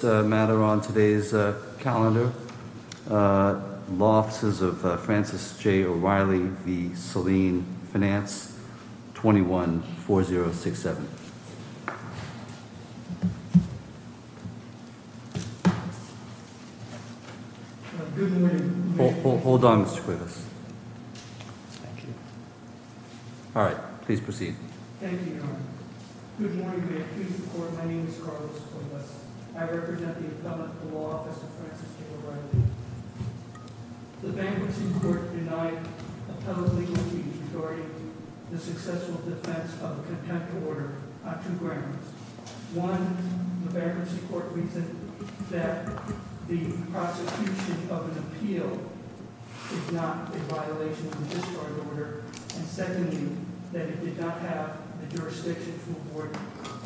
First matter on today's calendar, Law Offices of Francis J. O'Reilly v. Salin Finance, 21-4067. Hold on, Mr. Cuevas. Thank you. Alright, please proceed. Thank you, Your Honor. Good morning, Mayor and Chief of Court. My name is Carlos Cuevas. I represent the Appellate Law Office of Francis J. O'Reilly. The Bankruptcy Court denied appellate legal team authority to the successful defense of a contempt order on two grounds. One, the Bankruptcy Court reasoned that the prosecution of an appeal is not a violation of the discharge order. And secondly, that it did not have the jurisdiction to avoid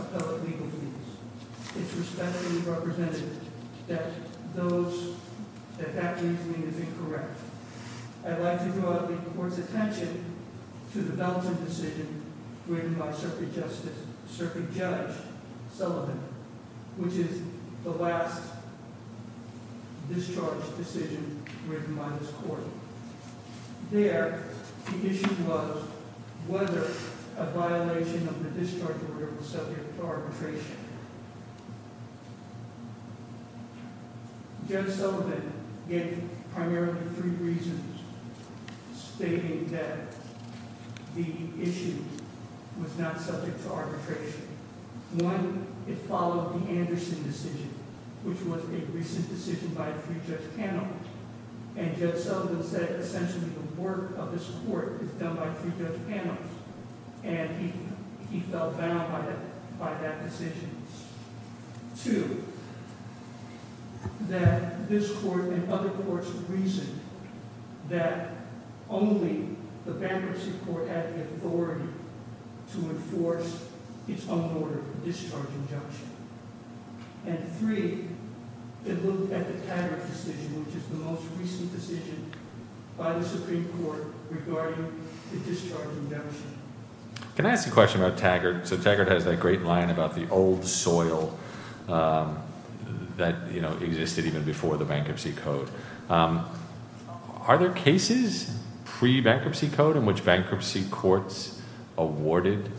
appellate legal fees. It respectfully represented that that reasoning is incorrect. I'd like to draw the Court's attention to the balancing decision written by Circuit Judge Sullivan, which is the last discharge decision written by this Court. There, the issue was whether a violation of the discharge order was subject to arbitration. Judge Sullivan gave primarily three reasons stating that the issue was not subject to arbitration. One, it followed the Anderson decision, which was a recent decision by a three-judge panel. And Judge Sullivan said, essentially, the work of this Court is done by three-judge panels. And he felt bound by that decision. Two, that this Court and other courts reasoned that only the Bankruptcy Court had the authority to enforce its own order of discharge injunction. And three, it looked at the Taggart decision, which is the most recent decision by the Supreme Court regarding the discharge injunction. Can I ask a question about Taggart? So Taggart has that great line about the old soil that existed even before the Bankruptcy Code. Are there cases pre-Bankruptcy Code in which Bankruptcy Courts awarded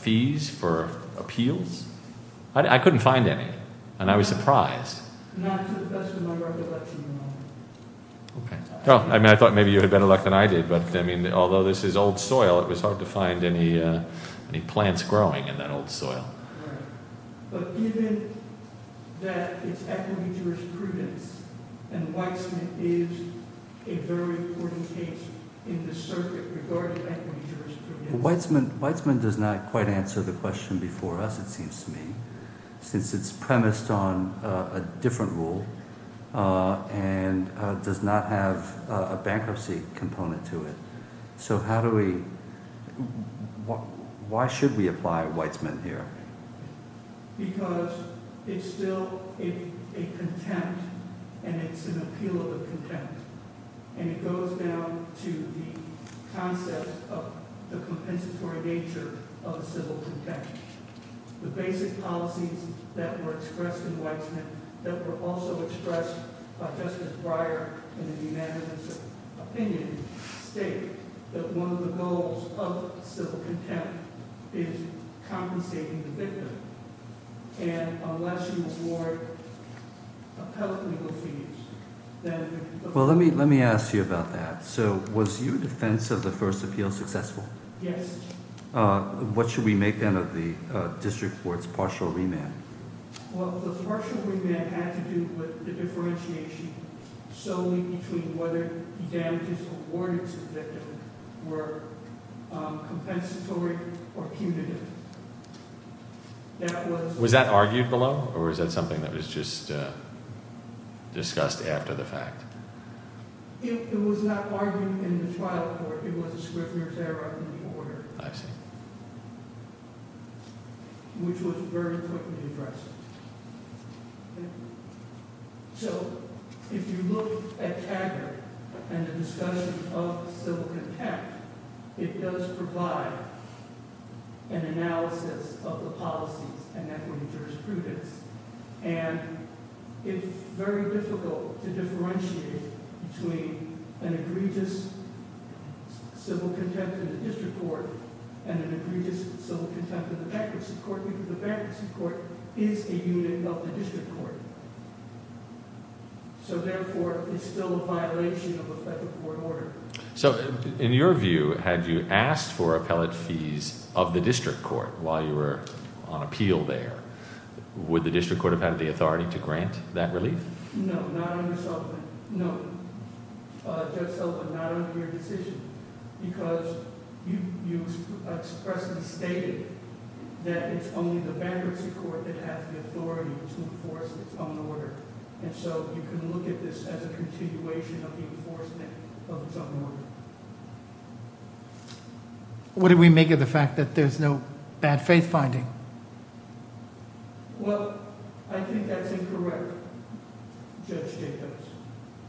fees for appeals? I couldn't find any, and I was surprised. Not to the best of my recollection, no. I thought maybe you had better luck than I did, but although this is old soil, it was hard to find any plants growing in that old soil. But given that it's equity jurisprudence, and Weitzman is a very important case in this circuit regarding equity jurisprudence. Weitzman does not quite answer the question before us, it seems to me, since it's premised on a different rule and does not have a bankruptcy component to it. So why should we apply Weitzman here? Because it's still a contempt, and it's an appeal of a contempt. And it goes down to the concept of the compensatory nature of a civil contempt. The basic policies that were expressed in Weitzman, that were also expressed by Justice Breyer in a unanimous opinion, state that one of the goals of a civil contempt is compensating the victim. And unless you award appellate legal fees, then— Well, let me ask you about that. So was your defense of the first appeal successful? Yes. What should we make, then, of the district court's partial remand? Well, the partial remand had to do with the differentiation solely between whether the damages awarded to the victim were compensatory or punitive. Was that argued below, or was that something that was just discussed after the fact? It was not argued in the trial court. It was a Scrivner's error in the order. I see. Which was very quickly addressed. So if you look at Kager and the discussion of civil contempt, it does provide an analysis of the policies and equity jurisprudence. And it's very difficult to differentiate between an egregious civil contempt in the district court and an egregious civil contempt in the bankruptcy court, because the bankruptcy court is a unit of the district court. So, therefore, it's still a violation of a federal court order. So in your view, had you asked for appellate fees of the district court while you were on appeal there, would the district court have had the authority to grant that relief? No, not under Sullivan. No, Judge Sullivan, not under your decision, because you expressly stated that it's only the bankruptcy court that has the authority to enforce its own order. And so you can look at this as a continuation of the enforcement of its own order. What did we make of the fact that there's no bad faith finding? Well, I think that's incorrect, Judge Jacobs,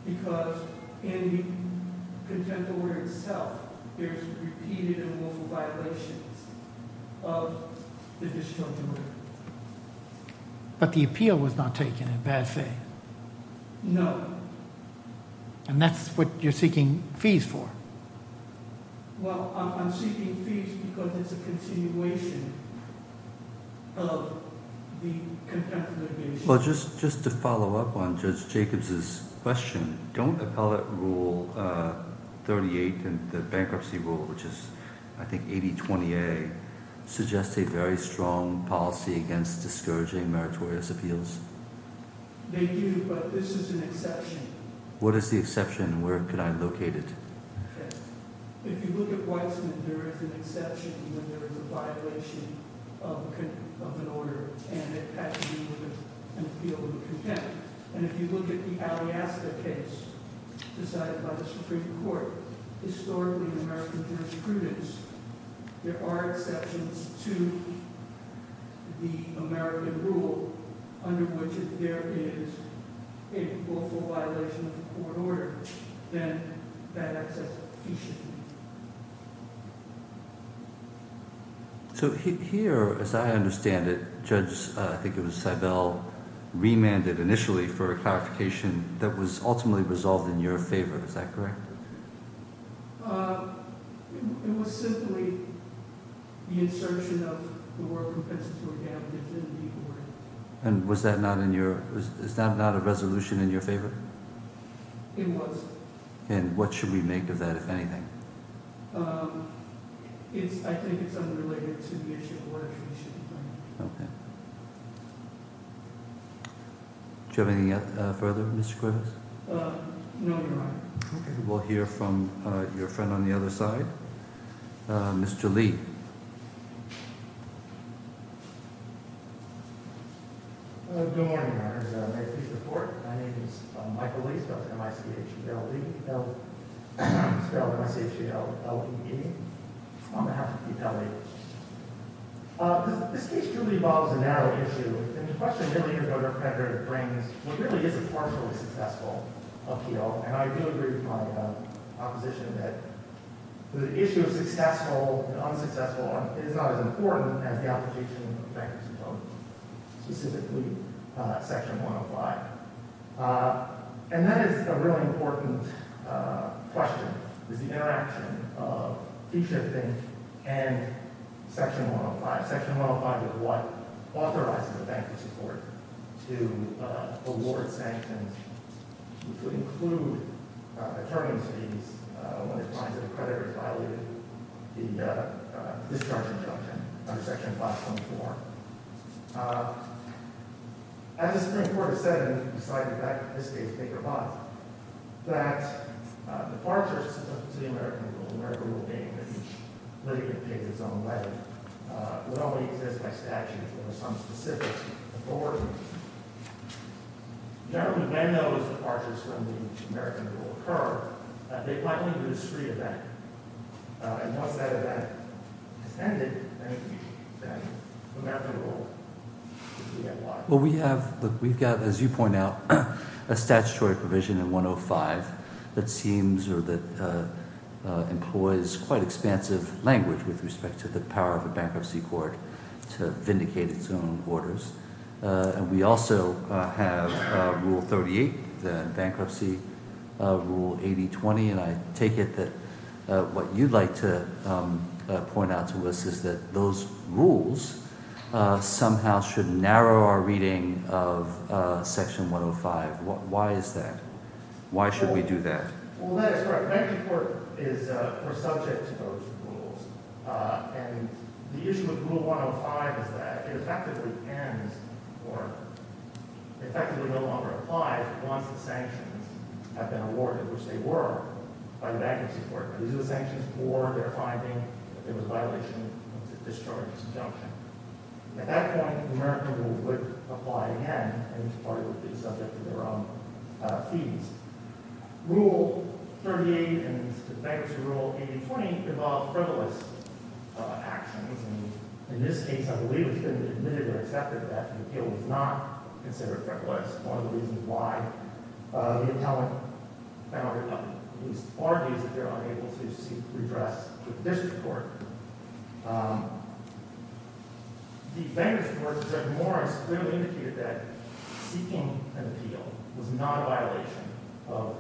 because in the contempt order itself, there's repeated and multiple violations of the district court order. But the appeal was not taken in bad faith. No. And that's what you're seeking fees for. Well, I'm seeking fees because it's a continuation of the contempt order. Well, just to follow up on Judge Jacobs' question, don't appellate rule 38 and the bankruptcy rule, which is, I think, 8020A, suggest a very strong policy against discouraging meritorious appeals? They do, but this is an exception. What is the exception, and where could I locate it? If you look at Weitzman, there is an exception when there is a violation of an order, and it has to do with an appeal in contempt. And if you look at the Aliasta case decided by the Supreme Court, historically in American jurisprudence, there are exceptions to the American rule, under which if there is a willful violation of the court order, then that exception should be. So here, as I understand it, Judge Seibel remanded initially for a clarification that was ultimately resolved in your favor. Is that correct? It was simply the insertion of the word compensatory damages. And was that not a resolution in your favor? It was. And what should we make of that, if anything? I think it's unrelated to the issue of the order. Okay. Do you have anything further, Mr. Cuevas? No, Your Honor. We'll hear from your friend on the other side, Mr. Lee. Good morning, Your Honor. My name is Michael Lee, spelled M-I-C-H-E-L-L-E, spelled M-I-C-H-E-L-L-E-E, on behalf of the attorney. This case truly involves a narrow issue. And the question really is what our creditor brings, which really is a partially successful appeal. And I do agree with my opposition that the issue of successful and unsuccessful is not as important as the application of bankruptcy tokens, specifically Section 105. And that is a really important question, is the interaction of Fee Shifting and Section 105. Section 105 is what authorizes a bankruptcy court to award sanctions, which would include a term in the cities when it finds that the creditor has violated the discharge injunction under Section 524. As the Supreme Court has said, and beside the fact that this case may provide, that departures to the American Rule, the American Rule being that each litigant takes its own way, would only exist by statute or some specific authority. When those departures from the American Rule occur, they likely produce free event. And once that event has ended, then the American Rule is re-enacted. We've got, as you point out, a statutory provision in 105 that seems or that employs quite expansive language with respect to the power of a bankruptcy court to vindicate its own orders. And we also have Rule 38, the Bankruptcy Rule 8020. And I take it that what you'd like to point out to us is that those rules somehow should narrow our reading of Section 105. Why is that? Why should we do that? Well, that is correct. Bankruptcy court is subject to those rules. And the issue with Rule 105 is that it effectively ends or effectively no longer applies once the sanctions have been awarded, which they were, by the bankruptcy court. These are the sanctions for their finding that there was a violation of the discharge injunction. At that point, the American Rule would apply again, and each party would be subject to their own fees. Rule 38 and the Bankruptcy Rule 8020 involve frivolous actions. And in this case, I believe it's been admitted or accepted that the appeal was not considered frivolous. One of the reasons why the appellant found or at least argues that they're unable to seek redress with this court. The Bankruptcy Court, Judge Morris, clearly indicated that seeking an appeal was not a violation of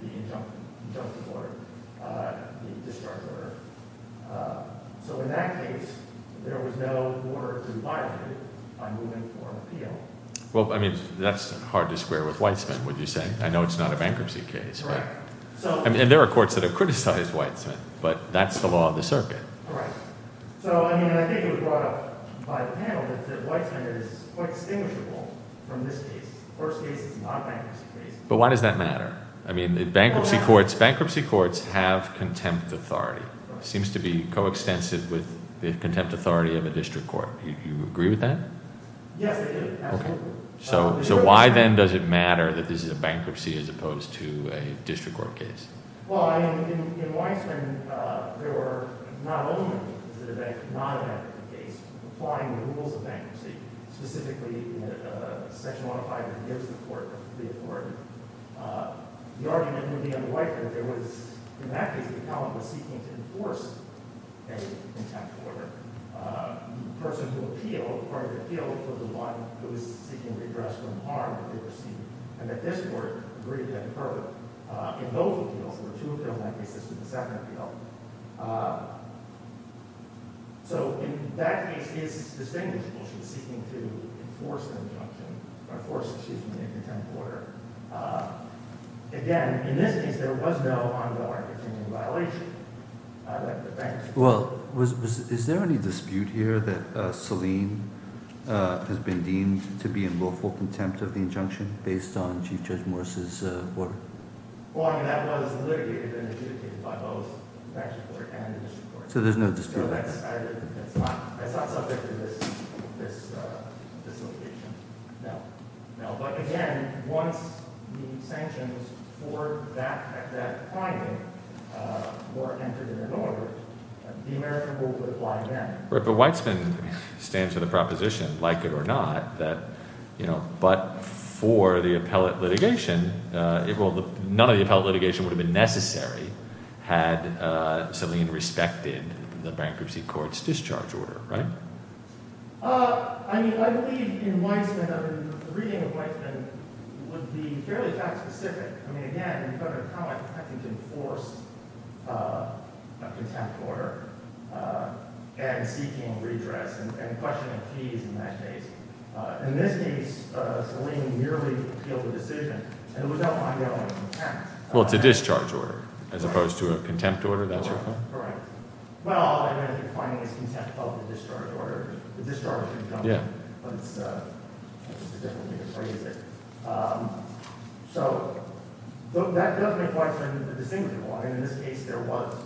the injunction order, the discharge order. So in that case, there was no order to violate it by moving for an appeal. Well, I mean, that's hard to square with Weitzman, would you say? I know it's not a bankruptcy case. Right. And there are courts that have criticized Weitzman, but that's the law of the circuit. Right. So, I mean, I think it was brought up by the panel that Weitzman is quite distinguishable from this case. The first case is not a bankruptcy case. But why does that matter? I mean, bankruptcy courts have contempt authority. It seems to be coextensive with the contempt authority of a district court. Do you agree with that? Yes, I do, absolutely. So why, then, does it matter that this is a bankruptcy as opposed to a district court case? Well, I mean, in Weitzman, there were not only is it a non-bankruptcy case, applying the rules of bankruptcy, specifically the section 105 that gives the court the authority. The argument would be unlikely. There was, in that case, the column was seeking to enforce a contempt order. The person who appealed, part of the appeal, was the one who was seeking redress for the harm that they received. And that this court agreed to that in both appeals. There were two appeals in that case. This was the second appeal. So, in that case, it's distinguishable she's seeking to enforce the injunction, or force, excuse me, the contempt order. Again, in this case, there was no ongoing contempt violation. Well, is there any dispute here that Selene has been deemed to be in willful contempt of the injunction based on Chief Judge Morris' order? Well, I mean, that was litigated and adjudicated by both the bankruptcy court and the district court. So there's no dispute about that? No, that's not subject to this litigation. No. No, but again, once the sanctions for that finding were entered in an order, the American rule would apply then. But Weitzman stands for the proposition, like it or not, that, you know, but for the appellate litigation, none of the appellate litigation would have been necessary had Selene respected the bankruptcy court's discharge order, right? I mean, I believe in Weitzman, I mean, the reading of Weitzman would be fairly fact specific. I mean, again, you cover how I practically enforce a contempt order and seeking redress and questioning of fees in that case. In this case, Selene merely appealed the decision, and there was no ongoing contempt. Well, it's a discharge order, as opposed to a contempt order. Correct. Well, I mean, I think finding is contempt of the discharge order. The discharge can come in, but it's just a different way to phrase it. So that doesn't make Weitzman indistinguishable. I mean, in this case, there was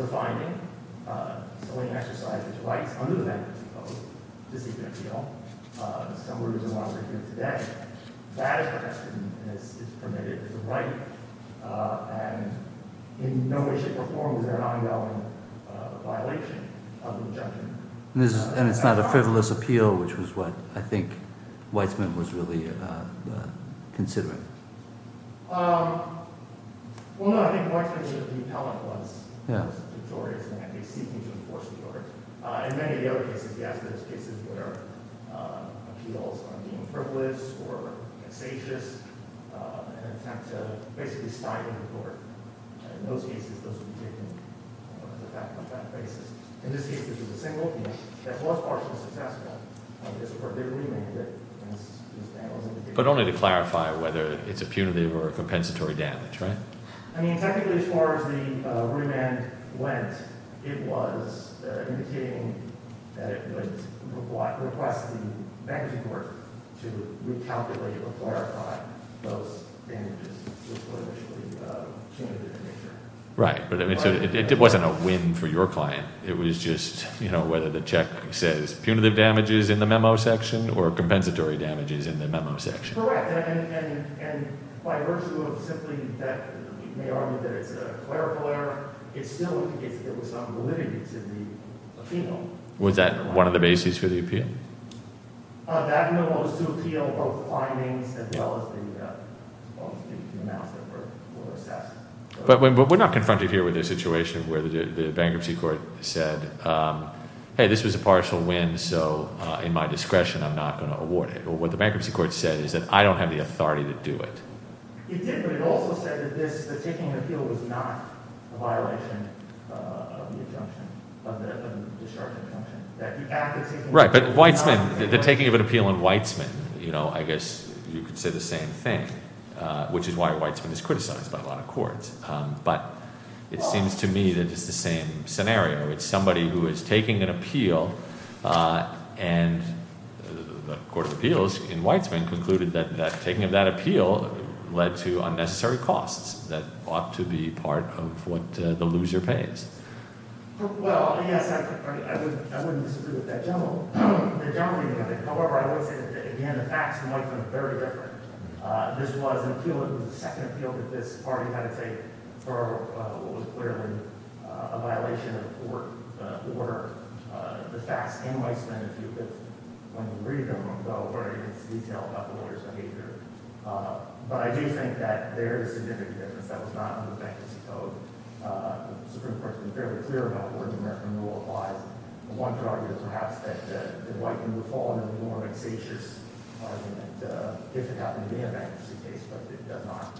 a finding. Selene exercised its rights under the bankruptcy code to seek an appeal. Some words are longer here today. That is what has been permitted as a right, and in no way, shape, or form is there an ongoing violation of the injunction. And it's not a frivolous appeal, which was what I think Weitzman was really considering. Well, no, I think Weitzman should have been appellant once. Yeah. But only to clarify whether it's a punitive or a compensatory damage, right? I mean, technically, as far as the rudiment went, it was indicating that it would request the bankruptcy court to recalculate or clarify those damages, which were initially punitive in nature. Right. But it wasn't a win for your client. It was just whether the check says punitive damages in the memo section or compensatory damages in the memo section. Correct. And by virtue of simply that he may argue that it's a clerical error, it still was on validity to the appeal. Was that one of the bases for the appeal? That memo was to appeal both findings as well as the amounts that were assessed. But we're not confronted here with a situation where the bankruptcy court said, hey, this was a partial win, so in my discretion, I'm not going to award it. What the bankruptcy court said is that I don't have the authority to do it. It did, but it also said that the taking of an appeal was not a violation of the injunction, of the discharging injunction. Right. But Weitzman, the taking of an appeal in Weitzman, I guess you could say the same thing, which is why Weitzman is criticized by a lot of courts. But it seems to me that it's the same scenario. It's somebody who is taking an appeal and the Court of Appeals in Weitzman concluded that taking of that appeal led to unnecessary costs that ought to be part of what the loser pays. Well, yes, I wouldn't disagree with that generally. However, I would say that, again, the facts in Weitzman are very different. This was an appeal that was the second appeal that this party had to take for what was clearly a violation of the court order. The facts in Weitzman, if you could read them, though, where it gets detailed about the lawyer's behavior. But I do think that there is a significant difference. That was not in the bankruptcy code. The Supreme Court has been fairly clear about where the American rule applies. I wanted to argue, perhaps, that Weitzman would fall under the norm of execution if it happened to be a bankruptcy case, but it does not.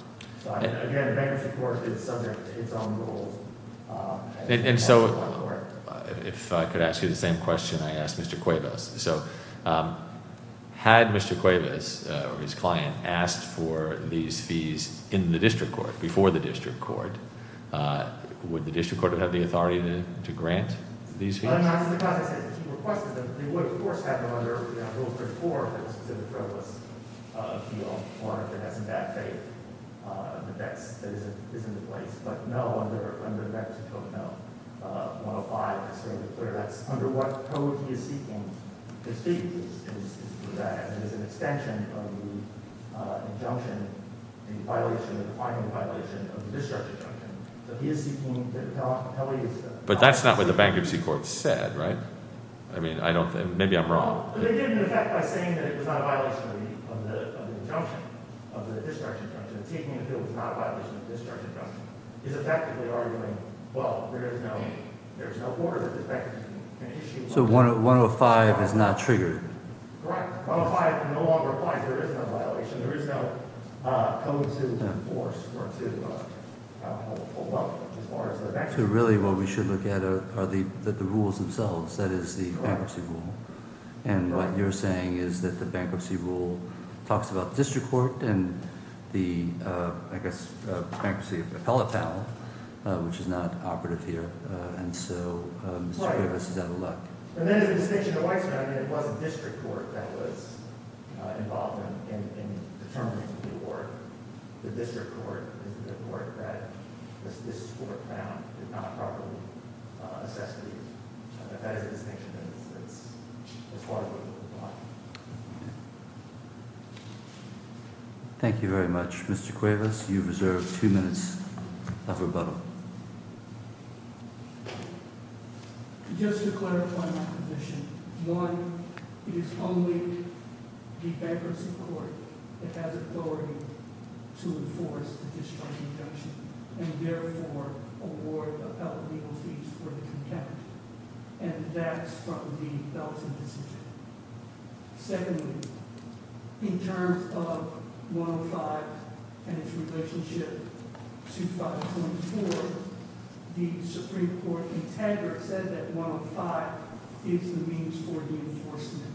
Again, a bankruptcy court is subject to its own rules. And so if I could ask you the same question I asked Mr. Cuevas. So had Mr. Cuevas or his client asked for these fees in the district court, before the district court, would the district court have the authority to grant these fees? It would, of course, happen under Rule 34, the specific frivolous appeal, or if it has some bad faith, the dex that is in place. But no, under the bankruptcy code, no. 105 is fairly clear. That's under what code he is seeking these fees. And there's an extension of the injunction, the violation, the defining violation of the discharge injunction. So he is seeking the appellee's- But that's not what the bankruptcy court said, right? I mean, maybe I'm wrong. But they did, in effect, by saying that it was not a violation of the injunction, of the discharge injunction. Taking appeal was not a violation of the discharge injunction. He's effectively arguing, well, there is no order that this bankruptcy can issue. So 105 is not triggered. Correct. 105 no longer applies. There is no violation. There is no code to enforce or to- So really what we should look at are the rules themselves, that is, the bankruptcy rule. And what you're saying is that the bankruptcy rule talks about the district court and the, I guess, bankruptcy appellate panel, which is not operative here. And so Mr. Grievous is out of luck. And then there's a distinction to Weitzman. I mean, it wasn't district court that was involved in determining the award. The district court is the court that this court found did not properly assess the- That is a distinction that's as far as we can draw. Thank you very much. Mr. Grievous, you've reserved two minutes of rebuttal. Just to clarify my position. One, it is only the bankruptcy court that has authority to enforce the discharge injunction and therefore award appellate legal fees for the content. And that's from the Bellison decision. Secondly, in terms of 105 and its relationship to 524, the Supreme Court integra said that 105 is the means for the enforcement.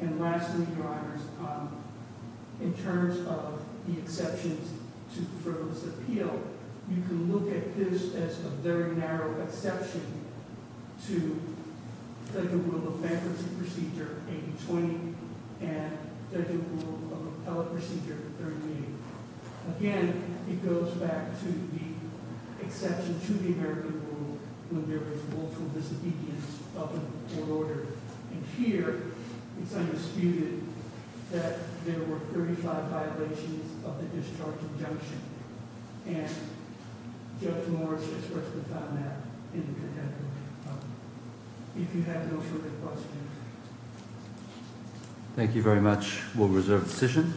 And lastly, Your Honors, in terms of the exceptions to the Federalist Appeal, you can look at this as a very narrow exception to Federal Rule of Bankruptcy Procedure 8020 and Federal Rule of Appellate Procedure 38. Again, it goes back to the exception to the American Rule when there is multiple disobedience of a court order. And here, it's undisputed that there were 35 violations of the discharge injunction. And Judge Morris has worked with us on that in the contemporary. If you have no further questions. Thank you very much. We'll reserve the decision.